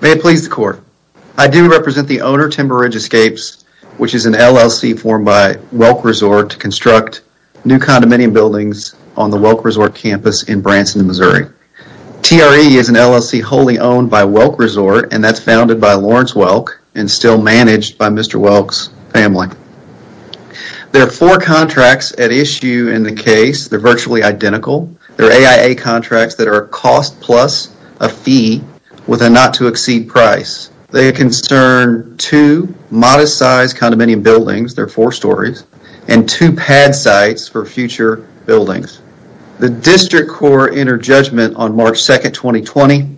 May it please the court. I do represent the owner Timber Ridge Escapes which is an LLC formed by Welk Resort to construct new condominium buildings on the Welk Resort campus in Branson, Missouri. TRE is an LLC wholly owned by Welk Resort and that's founded by Lawrence Welk and still managed by Mr. Welk's family. There are four contracts at issue in the case. They're virtually identical. There are AIA contracts that are a cost plus a fee with a not to exceed price. They concern two modest size condominium buildings, they're four stories, and two pad sites for future buildings. The district court entered judgment on March 2nd, 2020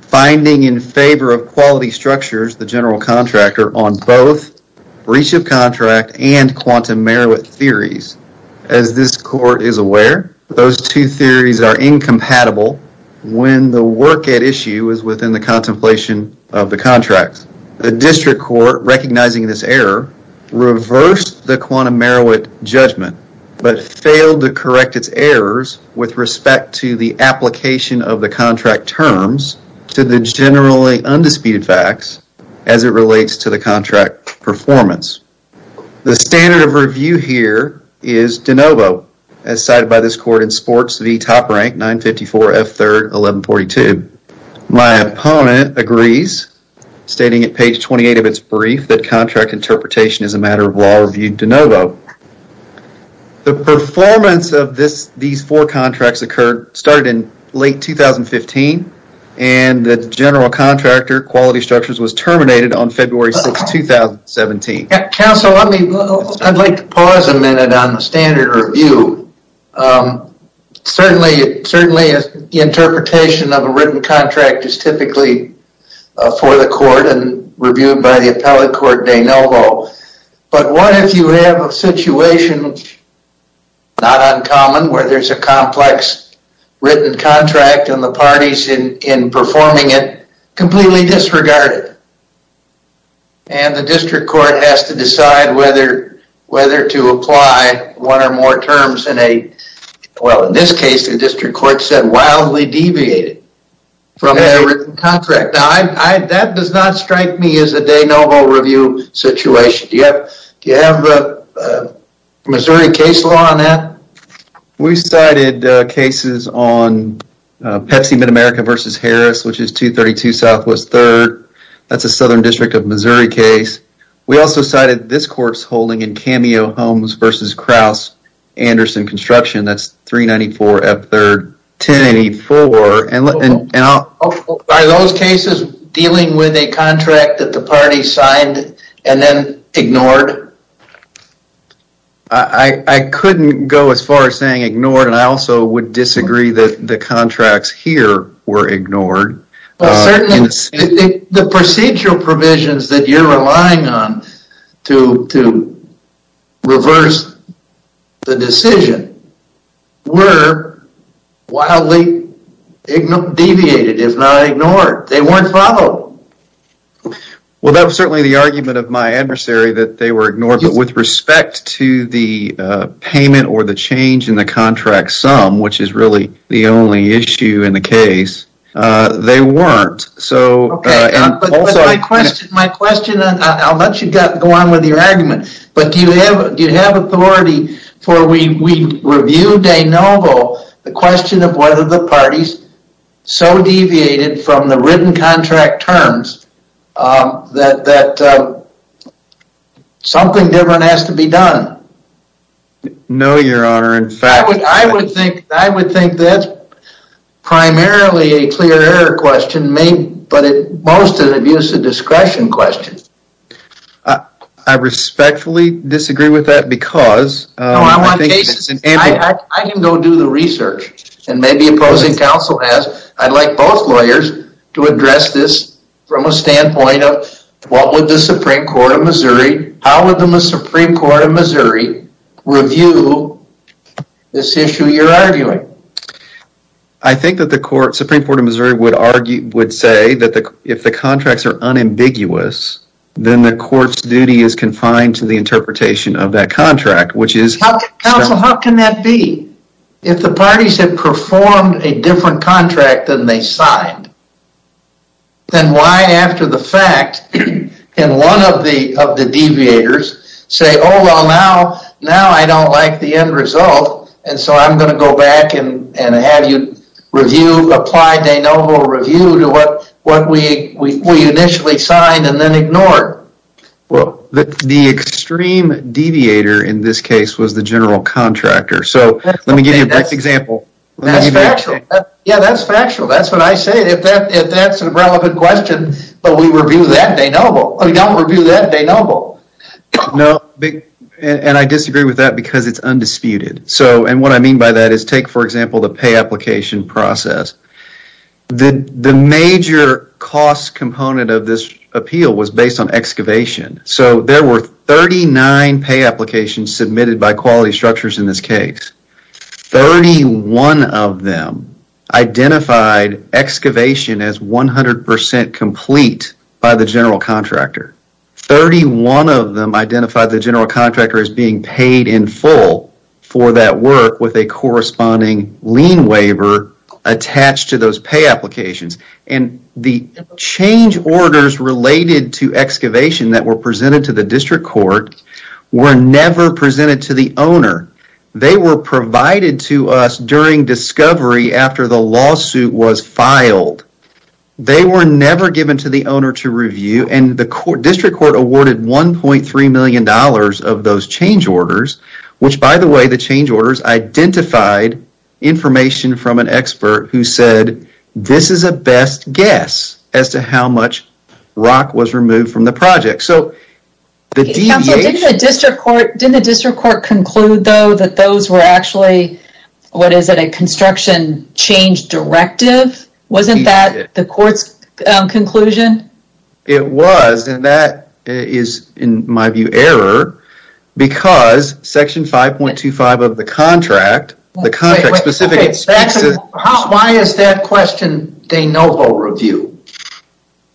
finding in favor of Quality Structures, the general contractor, on both breach of contract and quantum merit theories. As this court is aware those two theories are incompatible when the work at issue is within the contemplation of the contract. The district court recognizing this error reversed the quantum merit judgment but failed to correct its errors with respect to the application of the contract terms to the generally undisputed facts as it relates to the contract performance. The standard of review here is de novo as cited by this court in sports v top rank 954 F3rd 1142. My opponent agrees stating at page 28 of its brief that contract interpretation is a matter of law review de novo. The performance of this these four contracts occurred started in late 2015 and the general contractor, Quality Structures, was terminated on February 6, 2017. Counsel, I'd like to pause a minute on the standard review. Certainly, the interpretation of a written contract is typically for the court and reviewed by the appellate court de novo, but what if you have a situation not uncommon where there's a parties in performing it completely disregarded and the district court has to decide whether to apply one or more terms in a well in this case the district court said wildly deviated from their written contract. That does not strike me as a de novo review situation. Do you have a Missouri case law on that? We cited cases on Pepsi Mid-America versus Harris which is 232 Southwest 3rd. That's a southern district of Missouri case. We also cited this court's holding in Cameo Homes versus Kraus Anderson Construction that's 394 F3rd 1084. Are those cases dealing with a contract that the party signed and then ignored? I couldn't go as far as saying ignored and I also would disagree that the contracts here were ignored. The procedural provisions that you're relying on to reverse the decision were wildly deviated if not ignored. They weren't followed. Well, that was certainly the argument of my adversary that they were ignored, but with respect to the payment or the change in the contract sum, which is really the only issue in the case, they weren't. My question, I'll let you go on with your argument, but do you have authority for we review de novo the question of whether the parties so deviated from the written contract terms that something different has to be done? No, your honor. In fact, I would think that's primarily a clear error question, but at most an abuse of discretion question. I respectfully disagree with that because- I can go do the research and maybe opposing counsel has. I'd like both lawyers to address this from a standpoint of what would the Supreme Court of Missouri, how would the Supreme Court of Missouri review this issue you're arguing? I think that the Supreme Court of Missouri would say that if the contracts are unambiguous, then the court's duty is confined to the interpretation of that contract, which is- Counsel, how can that be? If the parties have performed a different contract than they signed, then why after the fact can one of the deviators say, oh, well, now I don't like the end result, and so I'm going to go back and have you review, apply de novo review to what we initially signed and then ignore it? Well, the extreme deviator in this case was the general contractor. So, let me give you a brief example. That's factual. Yeah, that's factual. That's what I say. If that's an irrelevant question, but we review that de novo, we don't review that de novo. No, and I disagree with that because it's undisputed. So, and what I mean by that is for example, the pay application process. The major cost component of this appeal was based on excavation. So, there were 39 pay applications submitted by quality structures in this case. 31 of them identified excavation as 100% complete by the general contractor. 31 of them identified the lien waiver attached to those pay applications, and the change orders related to excavation that were presented to the district court were never presented to the owner. They were provided to us during discovery after the lawsuit was filed. They were never given to the owner to review, and the district court awarded $1.3 million of those change orders, which by the way, change orders identified information from an expert who said this is a best guess as to how much rock was removed from the project. So, the deviation... Counselor, didn't the district court conclude though that those were actually, what is it, a construction change directive? Wasn't that the court's conclusion? It was, and that is, in my view, error because section 5.25 of the contract, the contract specifically... Why is that question de novo review?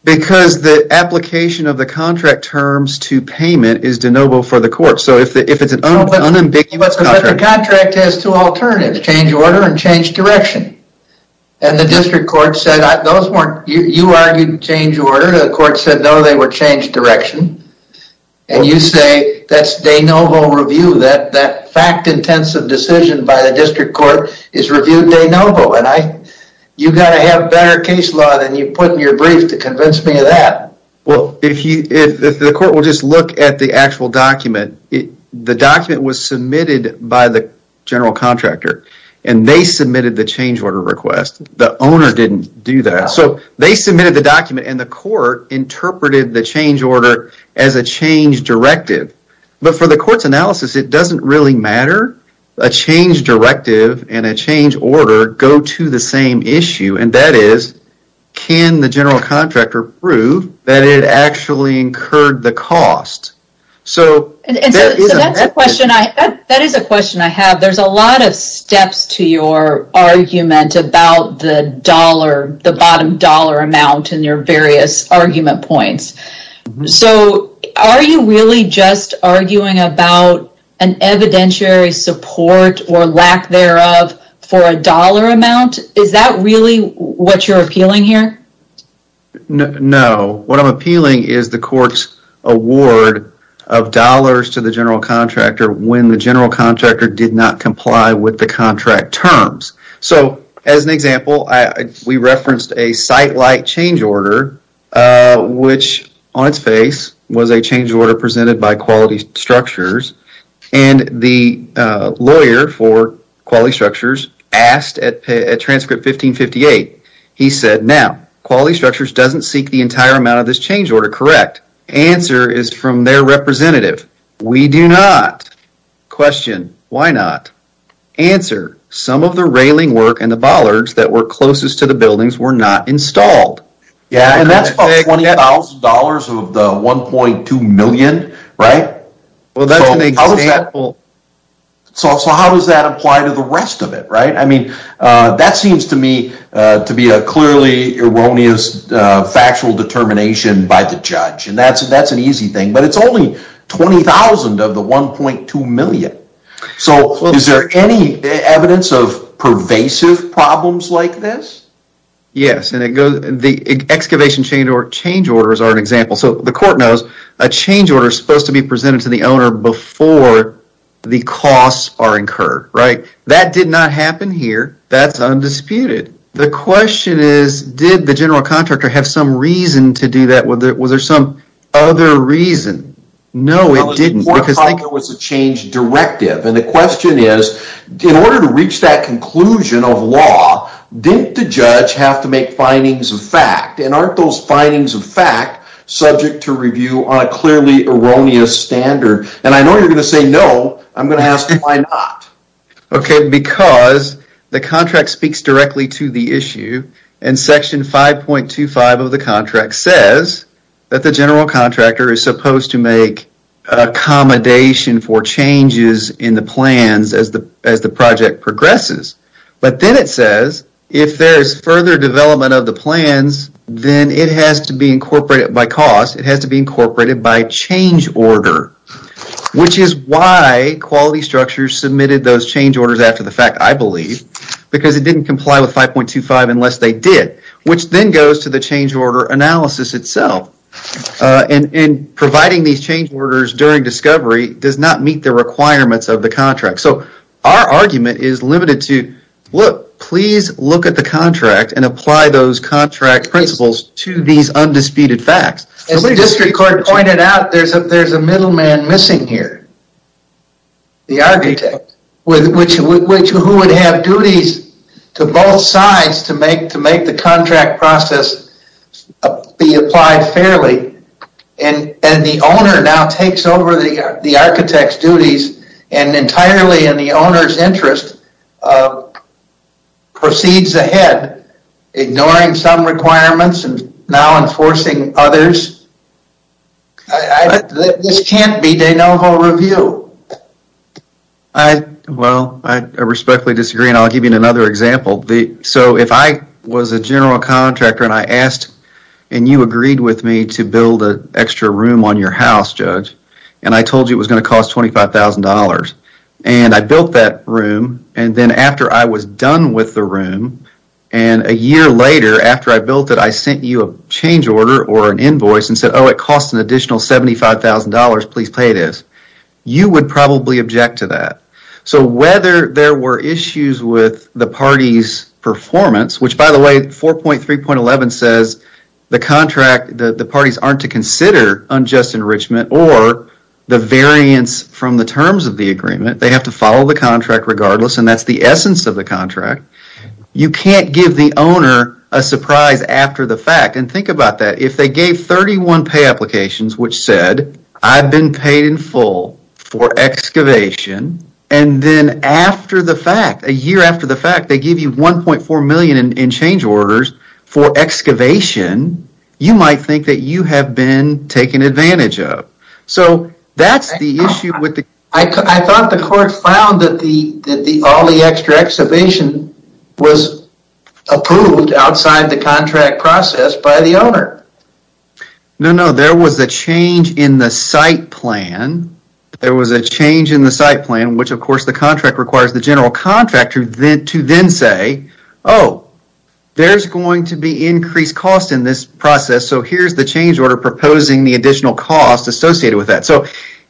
Because the application of the contract terms to payment is de novo for the court. So, if it's an unambiguous contract... But the contract has two alternatives, change order and change direction, and the district court said those weren't... You argued change order. The court said no, they were change direction, and you say that's de novo review. That fact-intensive decision by the district court is reviewed de novo, and you got to have better case law than you put in your brief to convince me of that. Well, if the court will just look at the actual document, the document was submitted by the general contractor, and they submitted the change order request. The owner didn't do that. So, they submitted the document, and the court interpreted the change order as a change directive, but for the court's analysis, it doesn't really matter. A change directive and a change order go to the same issue, and that is, can the general contractor prove that it actually incurred the cost? That is a question I have. There's a lot of steps to your argument about the bottom dollar amount in your various argument points. So, are you really just arguing about an evidentiary support or lack thereof for a dollar amount? Is that really what you're appealing here? No. What I'm appealing is the court's award of dollars to the general contractor when the general contractor did not comply with the contract terms. So, as an example, we referenced a site-like change order, which on its face was a change order presented by Quality Structures, and the lawyer for Quality Structures asked at Transcript 1558, he said, now, Quality Structures doesn't seek the entire amount of this change order, correct? Answer is from their representative. We do not. Question, why not? Answer, some of the railing work and the bollards that were closest to the buildings were not installed. Yeah, and that's about $20,000 of the $1.2 million, right? Well, that's an example. So, how does that apply to the rest of it, right? I mean, that seems to me to be a clearly erroneous factual determination by the judge, and that's an easy thing, but it's only $20,000 of the $1.2 million. So, is there any evidence of pervasive problems like this? Yes, and the excavation change orders are an example. So, the court knows a change order is supposed to be presented to the owner before the costs are incurred, right? That did not happen here. That's undisputed. The question is, did the general contractor have some reason to do that? Was there some other reason? No, I think there was a change directive, and the question is, in order to reach that conclusion of law, didn't the judge have to make findings of fact, and aren't those findings of fact subject to review on a clearly erroneous standard? And I know you're going to say no, I'm going to ask why not. Okay, because the contract speaks directly to the issue, and section 5.25 of the contract says that the general contractor is supposed to make accommodation for changes in the plans as the project progresses, but then it says if there's further development of the plans, then it has to be incorporated by cost. It has to be incorporated by change order, which is why quality structures submitted those change orders after the fact, I believe, because it didn't comply with 5.25 unless they did, which then goes to the change order analysis itself, and providing these change orders during discovery does not meet the requirements of the contract. So our argument is limited to, look, please look at the contract and apply those contract principles to these undisputed facts. As the district court pointed out, there's a middleman missing here, the architect, who would have duties to both sides to make the contract process be applied fairly, and the owner now takes over the architect's duties and entirely in the owner's interest proceeds ahead, ignoring some requirements and now enforcing others. This can't be de novo review. Well, I respectfully disagree, and I'll give you another example. So if I was a general contractor and I asked and you agreed with me to build an extra room on your house, Judge, and I told you it was going to cost $25,000, and I built that room, and then after I was done with the room, and a year later after I built it, I sent you a change order or an invoice and said, oh, it costs an additional $75,000, please pay this, you would probably object to that. So whether there were issues with the party's performance, which by the way, 4.3.11 says the parties aren't to consider unjust enrichment or the variance from the terms of the agreement, they have to follow the contract regardless, and that's the If they gave 31 pay applications, which said I've been paid in full for excavation, and then after the fact, a year after the fact, they give you $1.4 million in change orders for excavation, you might think that you have been taken advantage of. So that's the issue. I thought the court found that all the extra excavation was approved outside the contract process by the owner. No, no, there was a change in the site plan. There was a change in the site plan, which of course the contract requires the general contractor to then say, oh, there's going to be increased cost in this process, so here's the change order proposing the additional cost associated with that. So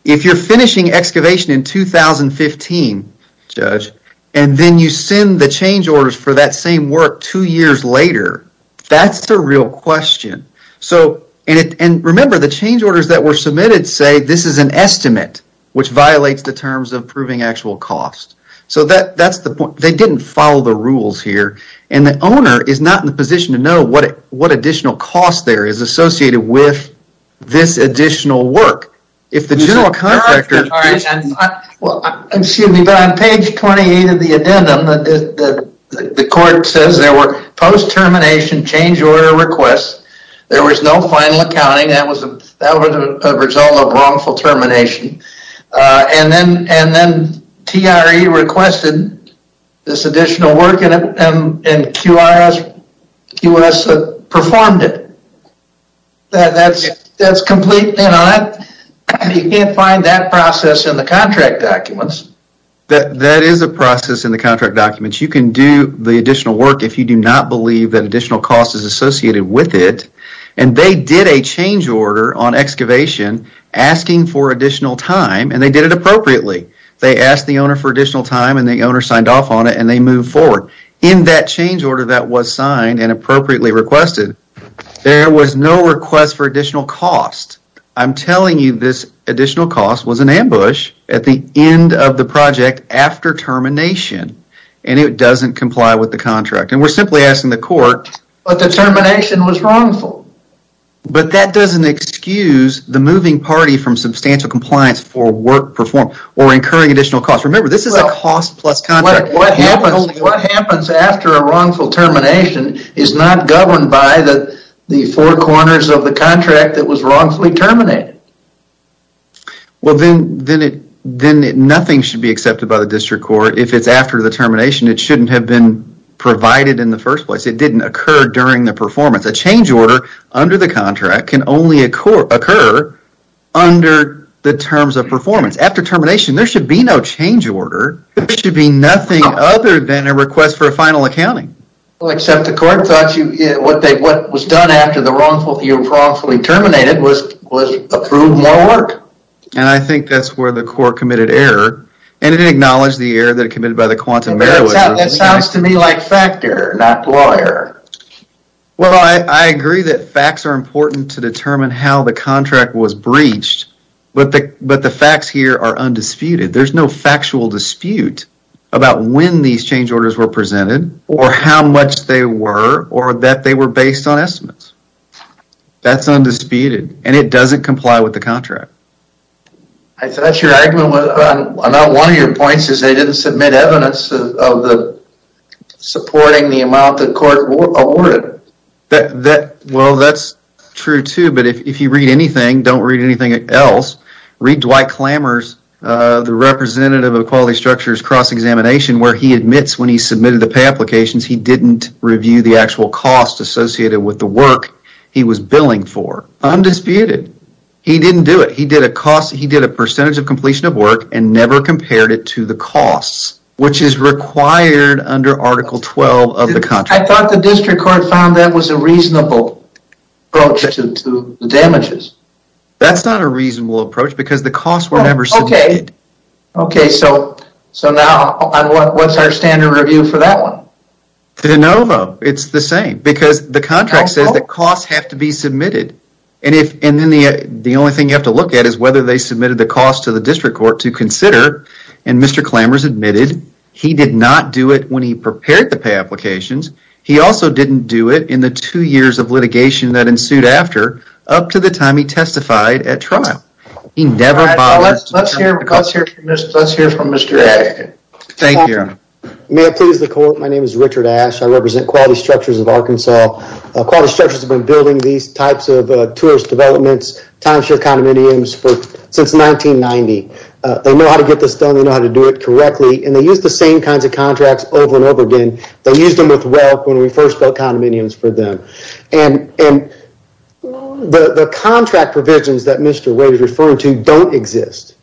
if you're finishing excavation in 2015, Judge, and then you send the change orders for that same work two years later, that's the real question. So, and remember the change orders that were submitted say this is an estimate, which violates the terms of proving actual cost. So that's the point. They didn't follow the rules here, and the owner is not in the position to know what additional cost there is associated with this additional work. If the court says there were post-termination change order requests, there was no final accounting, that was a result of wrongful termination, and then TRE requested this additional work, and QRS performed it. That's completely not, you can't find that process in the contract documents. That is a process in the contract documents. You can do the additional work if you do not believe that additional cost is associated with it, and they did a change order on excavation asking for additional time, and they did it appropriately. They asked the owner for additional time, and the owner signed off on it, and they moved forward. In that change order that was signed and appropriately requested, there was no request for additional cost. I'm telling you this additional cost was an ambush at the end of the project after termination, and it doesn't comply with the contract, and we're simply asking the court. But the termination was wrongful. But that doesn't excuse the moving party from substantial compliance for work performed or incurring additional cost. Remember this is a cost plus contract. What happens after a wrongful termination is not governed by the four corners of the contract that was wrongfully terminated. Well, then nothing should be accepted by the district court if it's after the termination. It shouldn't have been provided in the first place. It didn't occur during the performance. A change order under the contract can only occur under the terms of performance. After termination, there should be no change order. There should be nothing other than a request for a final accounting. Well, except the court thought what was done after the wrongful terminated was approved more work. And I think that's where the court committed error, and it acknowledged the error that committed by the quantum. That sounds to me like factor, not lawyer. Well, I agree that facts are important to determine how the contract was breached, but the facts here are undisputed. There's no factual dispute about when these change orders were presented or how much they were or that they were based on with the contract. I thought your argument was about one of your points is they didn't submit evidence of the supporting the amount the court awarded. Well, that's true too, but if you read anything, don't read anything else. Read Dwight Clamor's, the representative of quality structures cross-examination where he admits when he submitted the pay applications, he didn't review the actual cost associated with the work he was billing for. Undisputed. He didn't do it. He did a cost. He did a percentage of completion of work and never compared it to the costs, which is required under Article 12 of the contract. I thought the district court found that was a reasonable approach to the damages. That's not a reasonable approach because the costs were submitted. Okay, so now what's our standard review for that one? It's the same because the contract says that costs have to be submitted and then the only thing you have to look at is whether they submitted the cost to the district court to consider and Mr. Clamor's admitted he did not do it when he prepared the pay applications. He also didn't do it in the two years of litigation that ensued after up to the time he testified at trial. Let's hear from Mr. Ash. May I please the court? My name is Richard Ash. I represent quality structures of Arkansas. Quality structures have been building these types of tourist developments, timeshare condominiums for since 1990. They know how to get this done. They know how to do it correctly and they use the same kinds of contracts over and over again. They used them with wealth when we first built condominiums for them and the contract provisions that Mr. Wade is referring to don't exist.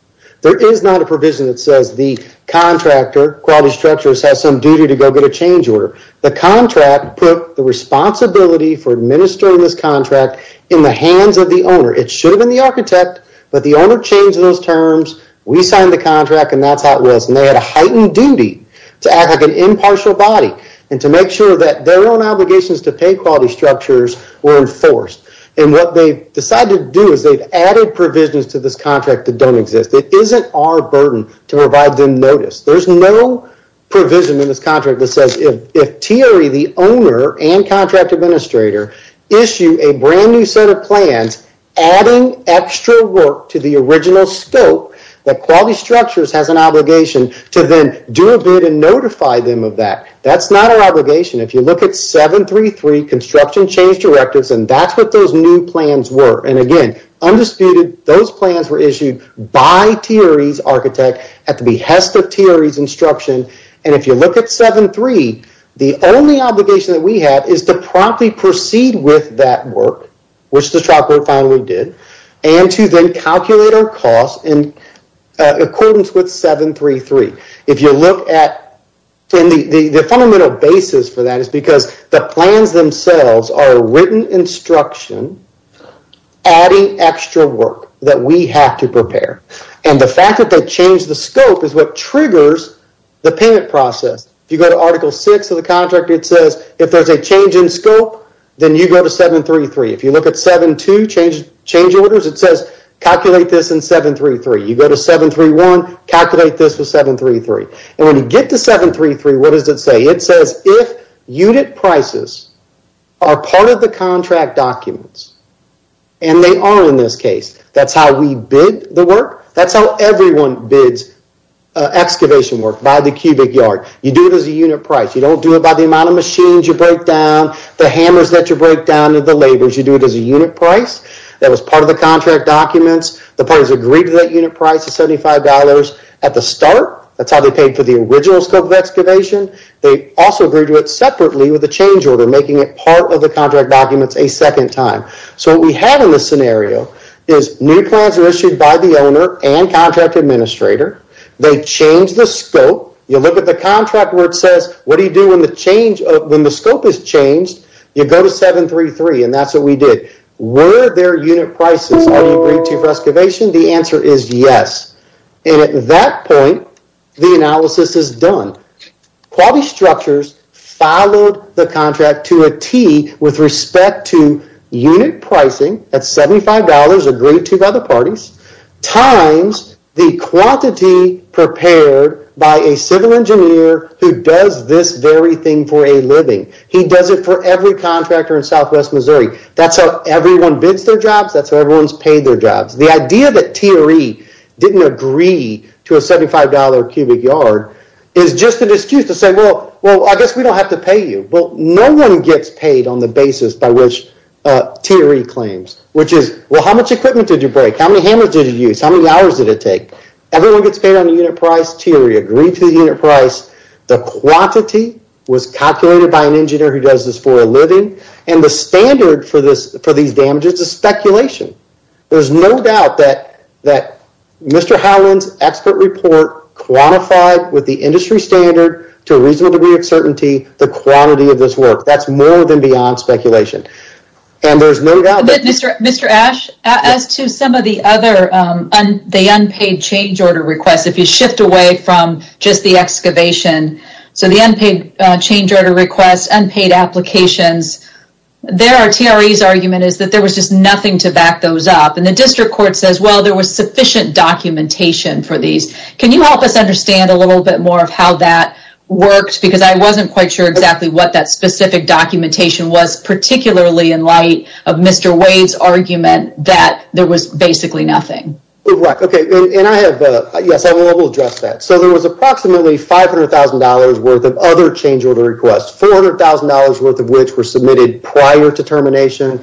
There is not a provision that says the contractor, quality structures, has some duty to go get a change order. The contract put the responsibility for administering this contract in the hands of the owner. It should have been the architect but the owner changed those terms. We signed the contract and that's how it was and they had a heightened duty to act like an impartial body and to make sure that their own obligations to pay quality structures were enforced. What they decided to do is they've added provisions to this contract that don't exist. It isn't our burden to provide them notice. There's no provision in this contract that says if TRE, the owner and contract administrator, issue a brand new set of plans adding extra work to the original scope, that quality structures has an obligation to then do a bid and notify them of that. That's not our obligation. If you look at 733 construction change directives and that's what those new plans were and again undisputed those plans were issued by TRE's architect at the behest of TRE's instruction and if you look at 733 the only obligation that we have is to promptly proceed with that work which the trial court finally did and to then calculate our cost in accordance with 733. If you look at the fundamental basis for that is because the plans themselves are written instruction adding extra work that we have to prepare and the fact that they change the scope is what triggers the payment process. If you go to article 6 of the contract it says if there's a change in scope then you go to 733. If you look at 7-2 change orders it says calculate this in 733. You go to 731 calculate this with 733 and when you get to 733 what does it say? It says if unit prices are part of the contract documents and they are in this case that's how we bid the work. That's how everyone bids excavation work by the cubic yard. You do it as a unit price. You don't do it the amount of machines you break down, the hammers that you break down, and the labors. You do it as a unit price. That was part of the contract documents. The parties agreed to that unit price of $75 at the start. That's how they paid for the original scope of excavation. They also agreed to it separately with the change order making it part of the contract documents a second time. So what we have in this scenario is new plans are issued by the owner and contract administrator. They change the scope. You look at the contract where it says what do you do when the change of when the scope is changed. You go to 733 and that's what we did. Were there unit prices already agreed to for excavation? The answer is yes and at that point the analysis is done. Quality structures followed the contract to a T with respect to unit pricing at $75 agreed to by parties times the quantity prepared by a civil engineer who does this very thing for a living. He does it for every contractor in southwest Missouri. That's how everyone bids their jobs. That's how everyone's paid their jobs. The idea that TRE didn't agree to a $75 cubic yard is just an excuse to say well I guess we don't have to pay you. Well no one gets paid on the How many hours did it take? Everyone gets paid on the unit price. TRE agreed to the unit price. The quantity was calculated by an engineer who does this for a living and the standard for these damages is speculation. There's no doubt that Mr. Howland's expert report quantified with the industry standard to a reasonable degree of certainty the quality of this work. That's more than beyond speculation and there's no doubt that Mr. Ash as to some of the other the unpaid change order requests if you shift away from just the excavation so the unpaid change order requests unpaid applications there are TRE's argument is that there was just nothing to back those up and the district court says well there was sufficient documentation for these. Can you help us understand a little bit more of how that worked because I wasn't quite sure exactly what that specific documentation was particularly in light of Mr. Wade's argument that there was basically nothing. Right okay and I have a yes I will address that so there was approximately $500,000 worth of other change order requests $400,000 worth of which were submitted prior to termination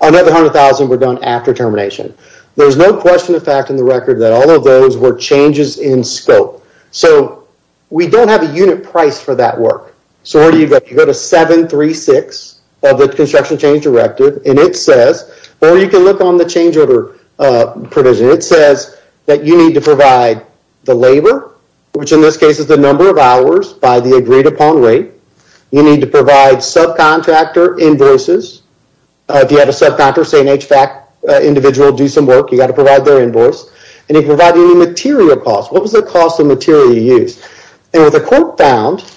another hundred thousand were done after termination. There's no question of fact in the record that all of those were changes in scope so we don't have a unit price for that work so where do you go you go to 736 of the construction change directive and it says or you can look on the change order uh provision it says that you need to provide the labor which in this case is the number of hours by the agreed upon rate you need to provide subcontractor invoices uh if you have a subcontractor say an HVAC individual do some work you got to provide their invoice and you provide any material cost what was the cost of material you used and what the court found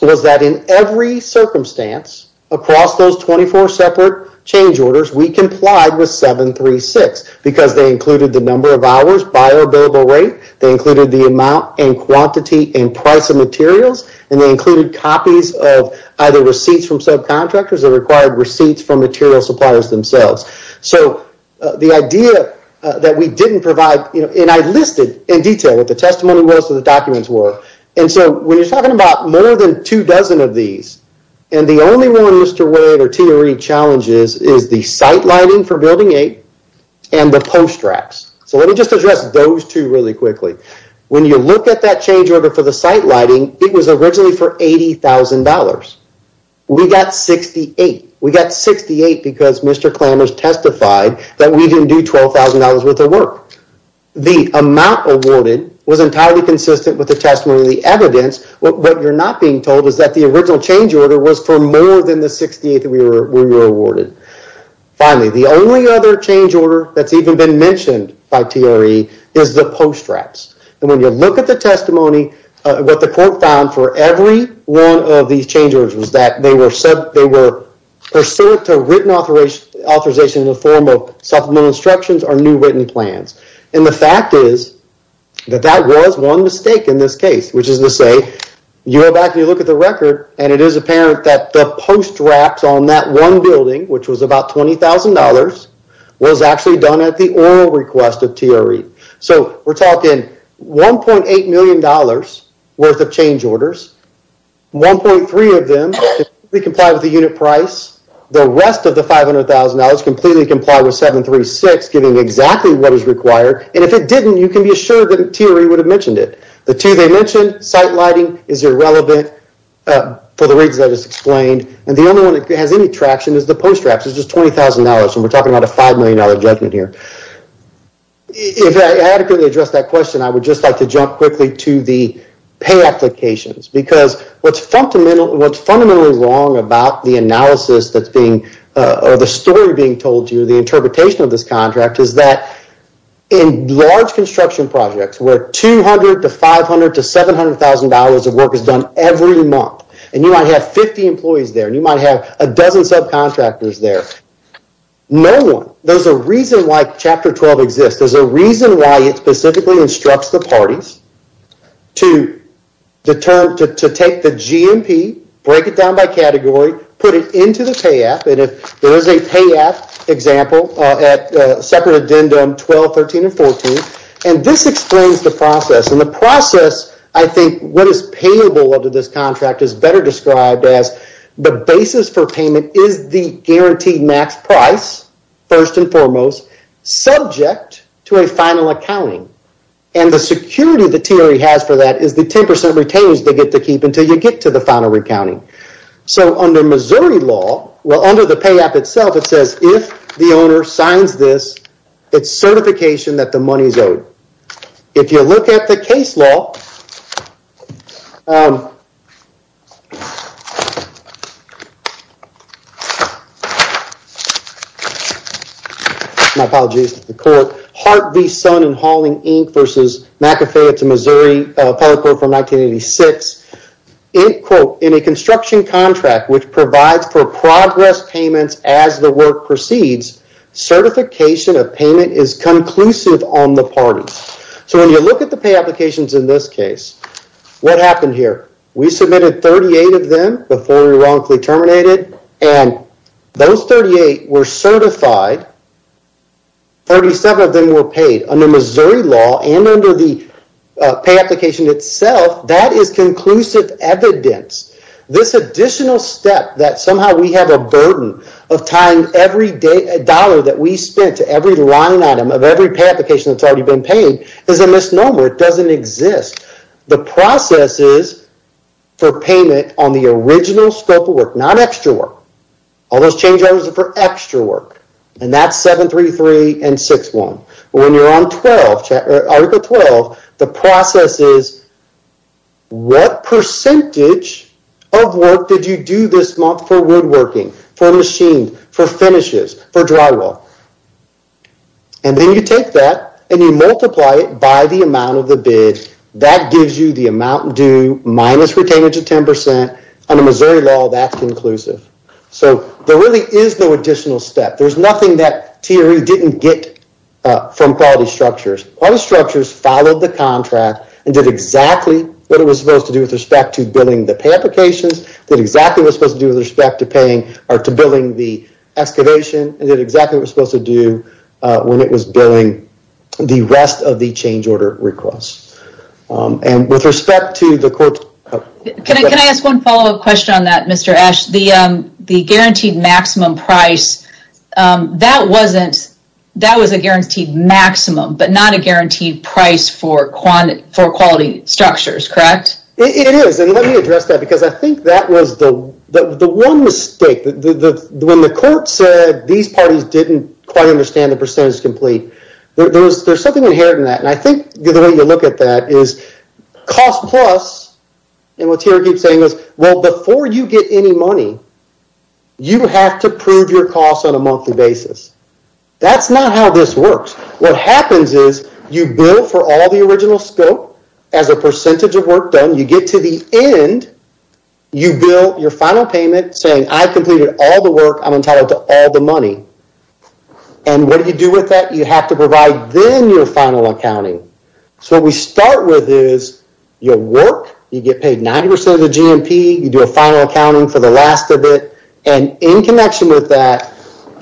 was that in every circumstance across those 24 separate change orders we complied with 736 because they included the number of hours by our billable rate they included the amount and quantity and price of materials and they included copies of either receipts from subcontractors that required receipts from material suppliers themselves so the idea that we didn't provide you know and I listed in detail what the testimony was documents were and so when you're talking about more than two dozen of these and the only one Mr. Wade or TRE challenges is the site lighting for building eight and the post racks so let me just address those two really quickly when you look at that change order for the site lighting it was originally for eighty thousand dollars we got 68 we got 68 because Mr. Klamers testified that we didn't do twelve thousand dollars worth of work the amount awarded was entirely consistent with the testimony the evidence what you're not being told is that the original change order was for more than the 68 that we were we were awarded finally the only other change order that's even been mentioned by TRE is the post racks and when you look at the testimony what the court found for every one of these change orders was that they were said they were pursuant to written authorization in the form of supplemental instructions or new written plans and the fact is that that was one mistake in this case which is to say you go back and you look at the record and it is apparent that the post wraps on that one building which was about twenty thousand dollars was actually done at the oral request of TRE so we're talking 1.8 million dollars worth of change orders 1.3 of them comply with the unit price the rest of the five hundred thousand dollars completely comply with seven three six giving exactly what is required and if it didn't you can be assured that TRE would have mentioned it the two they mentioned site lighting is irrelevant for the reasons I just explained and the only one that has any traction is the post wraps it's just twenty thousand dollars and we're talking about a five million dollar judgment here if I adequately address that question I would just like to jump quickly to the pay applications because what's fundamental what's fundamentally wrong about the analysis that's being or the story being told you the interpretation of this contract is that in large construction projects where 200 to 500 to 700 thousand dollars of work is done every month and you might have 50 employees there and you might have a dozen subcontractors there no one there's a reason why chapter 12 exists there's a reason why it specifically instructs the parties to determine to take the GMP break it down by category put it into the pay app and if there is a pay app example at separate addendum 12 13 and 14 and this explains the process and the process I think what is payable under this contract is better described as the basis for payment is the guaranteed max price first and foremost subject to a final accounting and the security the TRE has for that is the 10 percent retainers they get to keep until you get to the final recounting so under Missouri law well under the pay app itself it says if the owner signs this it's certification that the money is owed if you look at the case law um my apologies to the court heart v sun and hauling inc versus mcafee it's a Missouri appellate court from 1986 it quote in a construction contract which provides for progress payments as the work proceeds certification of payment is conclusive on the party so when you look at the pay applications in this case what happened here we submitted 38 of them before we wrongfully terminated and those 38 were certified 37 of them were paid under Missouri law and under the pay application itself that is conclusive evidence this additional step that somehow we have a burden of tying every day a dollar that we spent to every line item of every application that's already been paid is a misnomer it doesn't exist the process is for payment on the original scope of work not extra work all those change orders are for extra work and that's 733 and 61 but when you're on 12 or article 12 the process is what percentage of work did you do this month for woodworking for machines for finishes for drywall and then you take that and you multiply it by the amount of the bid that gives you the amount due minus retainage of 10 under Missouri law that's conclusive so there really is no additional step there's nothing that tre didn't get from quality structures all the structures followed the contract and did exactly what it was supposed to do with respect to billing the pay applications that exactly was supposed to do with respect to paying or to billing the excavation and that exactly was supposed to do when it was billing the rest of the change order requests and with respect to the court can i ask one follow-up question on that mr ash the um the guaranteed maximum price um that wasn't that was a guaranteed maximum but not a guaranteed price for for quality structures correct it is and let me address that because i think that was the the one mistake the when the court said these parties didn't quite understand the percentage complete there was there's something inherent in that and i think the way you look at that is cost plus and what's here keeps saying is well before you get any money you have to prove your basis that's not how this works what happens is you bill for all the original scope as a percentage of work done you get to the end you bill your final payment saying i completed all the work i'm entitled to all the money and what do you do with that you have to provide then your final accounting so we start with is your work you get paid 90 of the gmp you do a final accounting for last of it and in connection with that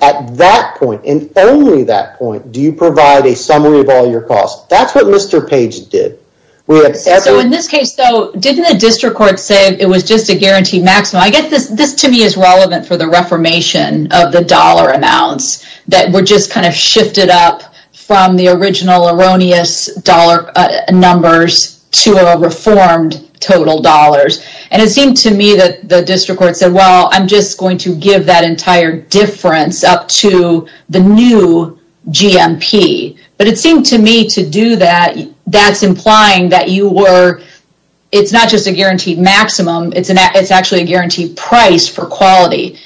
at that point and only that point do you provide a summary of all your costs that's what mr page did we have so in this case though didn't the district court say it was just a guaranteed maximum i get this this to me is relevant for the reformation of the dollar amounts that were just kind of shifted up from the original erroneous dollar numbers to a reformed total dollars and it seemed to me that the district court said well i'm just going to give that entire difference up to the new gmp but it seemed to me to do that that's implying that you were it's not just a guaranteed maximum it's an it's actually a guaranteed price for quality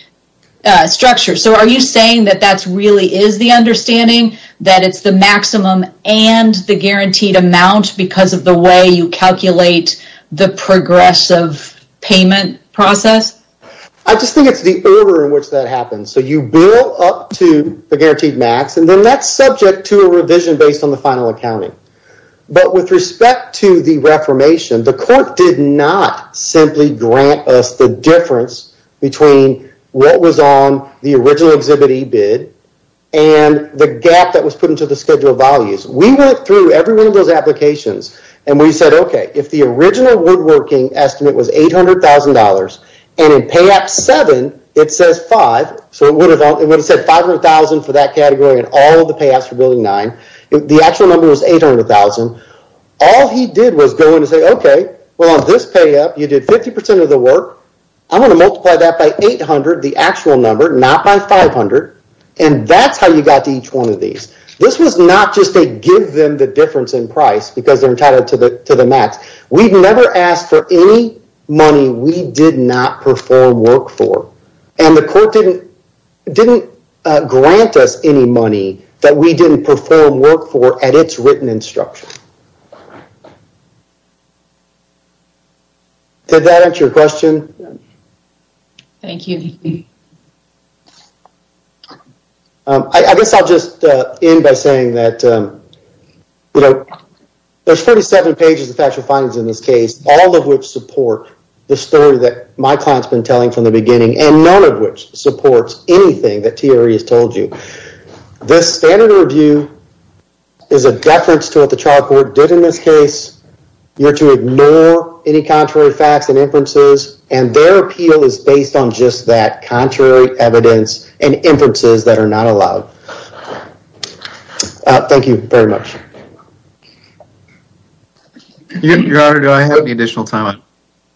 structure so are you saying that that's really is the understanding that it's the maximum and the guaranteed amount because of the way you calculate the progressive payment process i just think it's the order in which that happens so you build up to the guaranteed max and then that's subject to a revision based on the final accounting but with respect to the reformation the court did not simply grant us the difference between what was on the original exhibit e-bid and the gap that was put into the schedule values we went through every one of those applications and we said okay if the original woodworking estimate was eight hundred thousand dollars and in payout seven it says five so it would have it would have said five hundred thousand for that category and all of the payouts for building nine the actual number was eight hundred thousand all he did was go in and say okay well on this payout you did fifty percent of the work i'm going to multiply that by 800 the actual number not by 500 and that's how you got to each one of these this was not just to give them the difference in price because they're entitled to the to the max we've never asked for any money we did not perform work for and the court didn't didn't grant us any money that we didn't perform work for at its written instruction did that answer your question thank you um i guess i'll just uh end by saying that um you know there's 47 pages of factual findings in this case all of which support the story that my client's been telling from the beginning and none of which supports anything that tre has told you this standard review is a deference to what child court did in this case you're to ignore any contrary facts and inferences and their appeal is based on just that contrary evidence and inferences that are not allowed thank you very much your honor do i have any additional time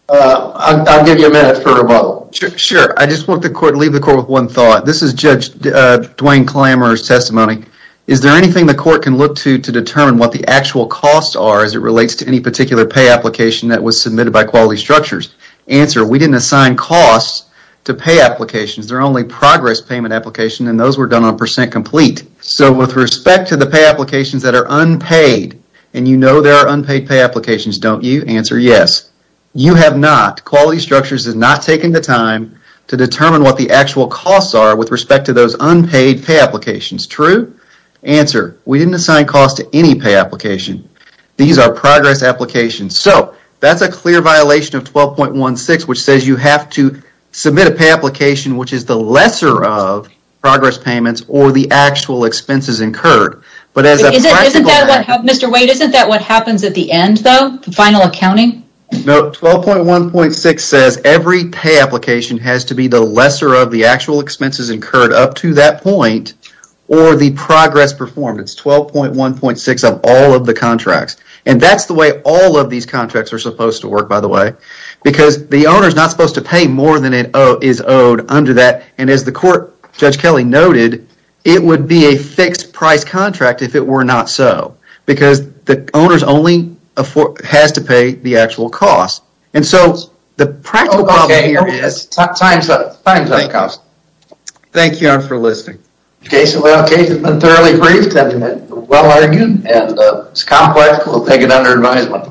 uh i'll give you a minute for a vote sure i just want the court to leave the court with one thought this is judge uh duane clamber's testimony is there anything the court can look to to determine what the actual costs are as it relates to any particular pay application that was submitted by quality structures answer we didn't assign costs to pay applications they're only progress payment application and those were done on percent complete so with respect to the pay applications that are unpaid and you know there are unpaid pay applications don't you answer yes you have not quality structures has not taken the time to determine what the actual costs are with respect to those unpaid pay applications true answer we didn't assign cost to any pay application these are progress applications so that's a clear violation of 12.16 which says you have to submit a pay application which is the lesser of progress payments or the actual expenses incurred but as a practical Mr. Wade isn't that what happens at the to be the lesser of the actual expenses incurred up to that point or the progress performance 12.1.6 of all of the contracts and that's the way all of these contracts are supposed to work by the way because the owner is not supposed to pay more than it is owed under that and as the court judge kelly noted it would be a fixed price contract if it were not so because the owners only afford has to pay the actual cost and so the practical problem here is time time time cost thank you all for listening okay so well okay it's been thoroughly briefed and well argued and it's complex we'll take it under advisement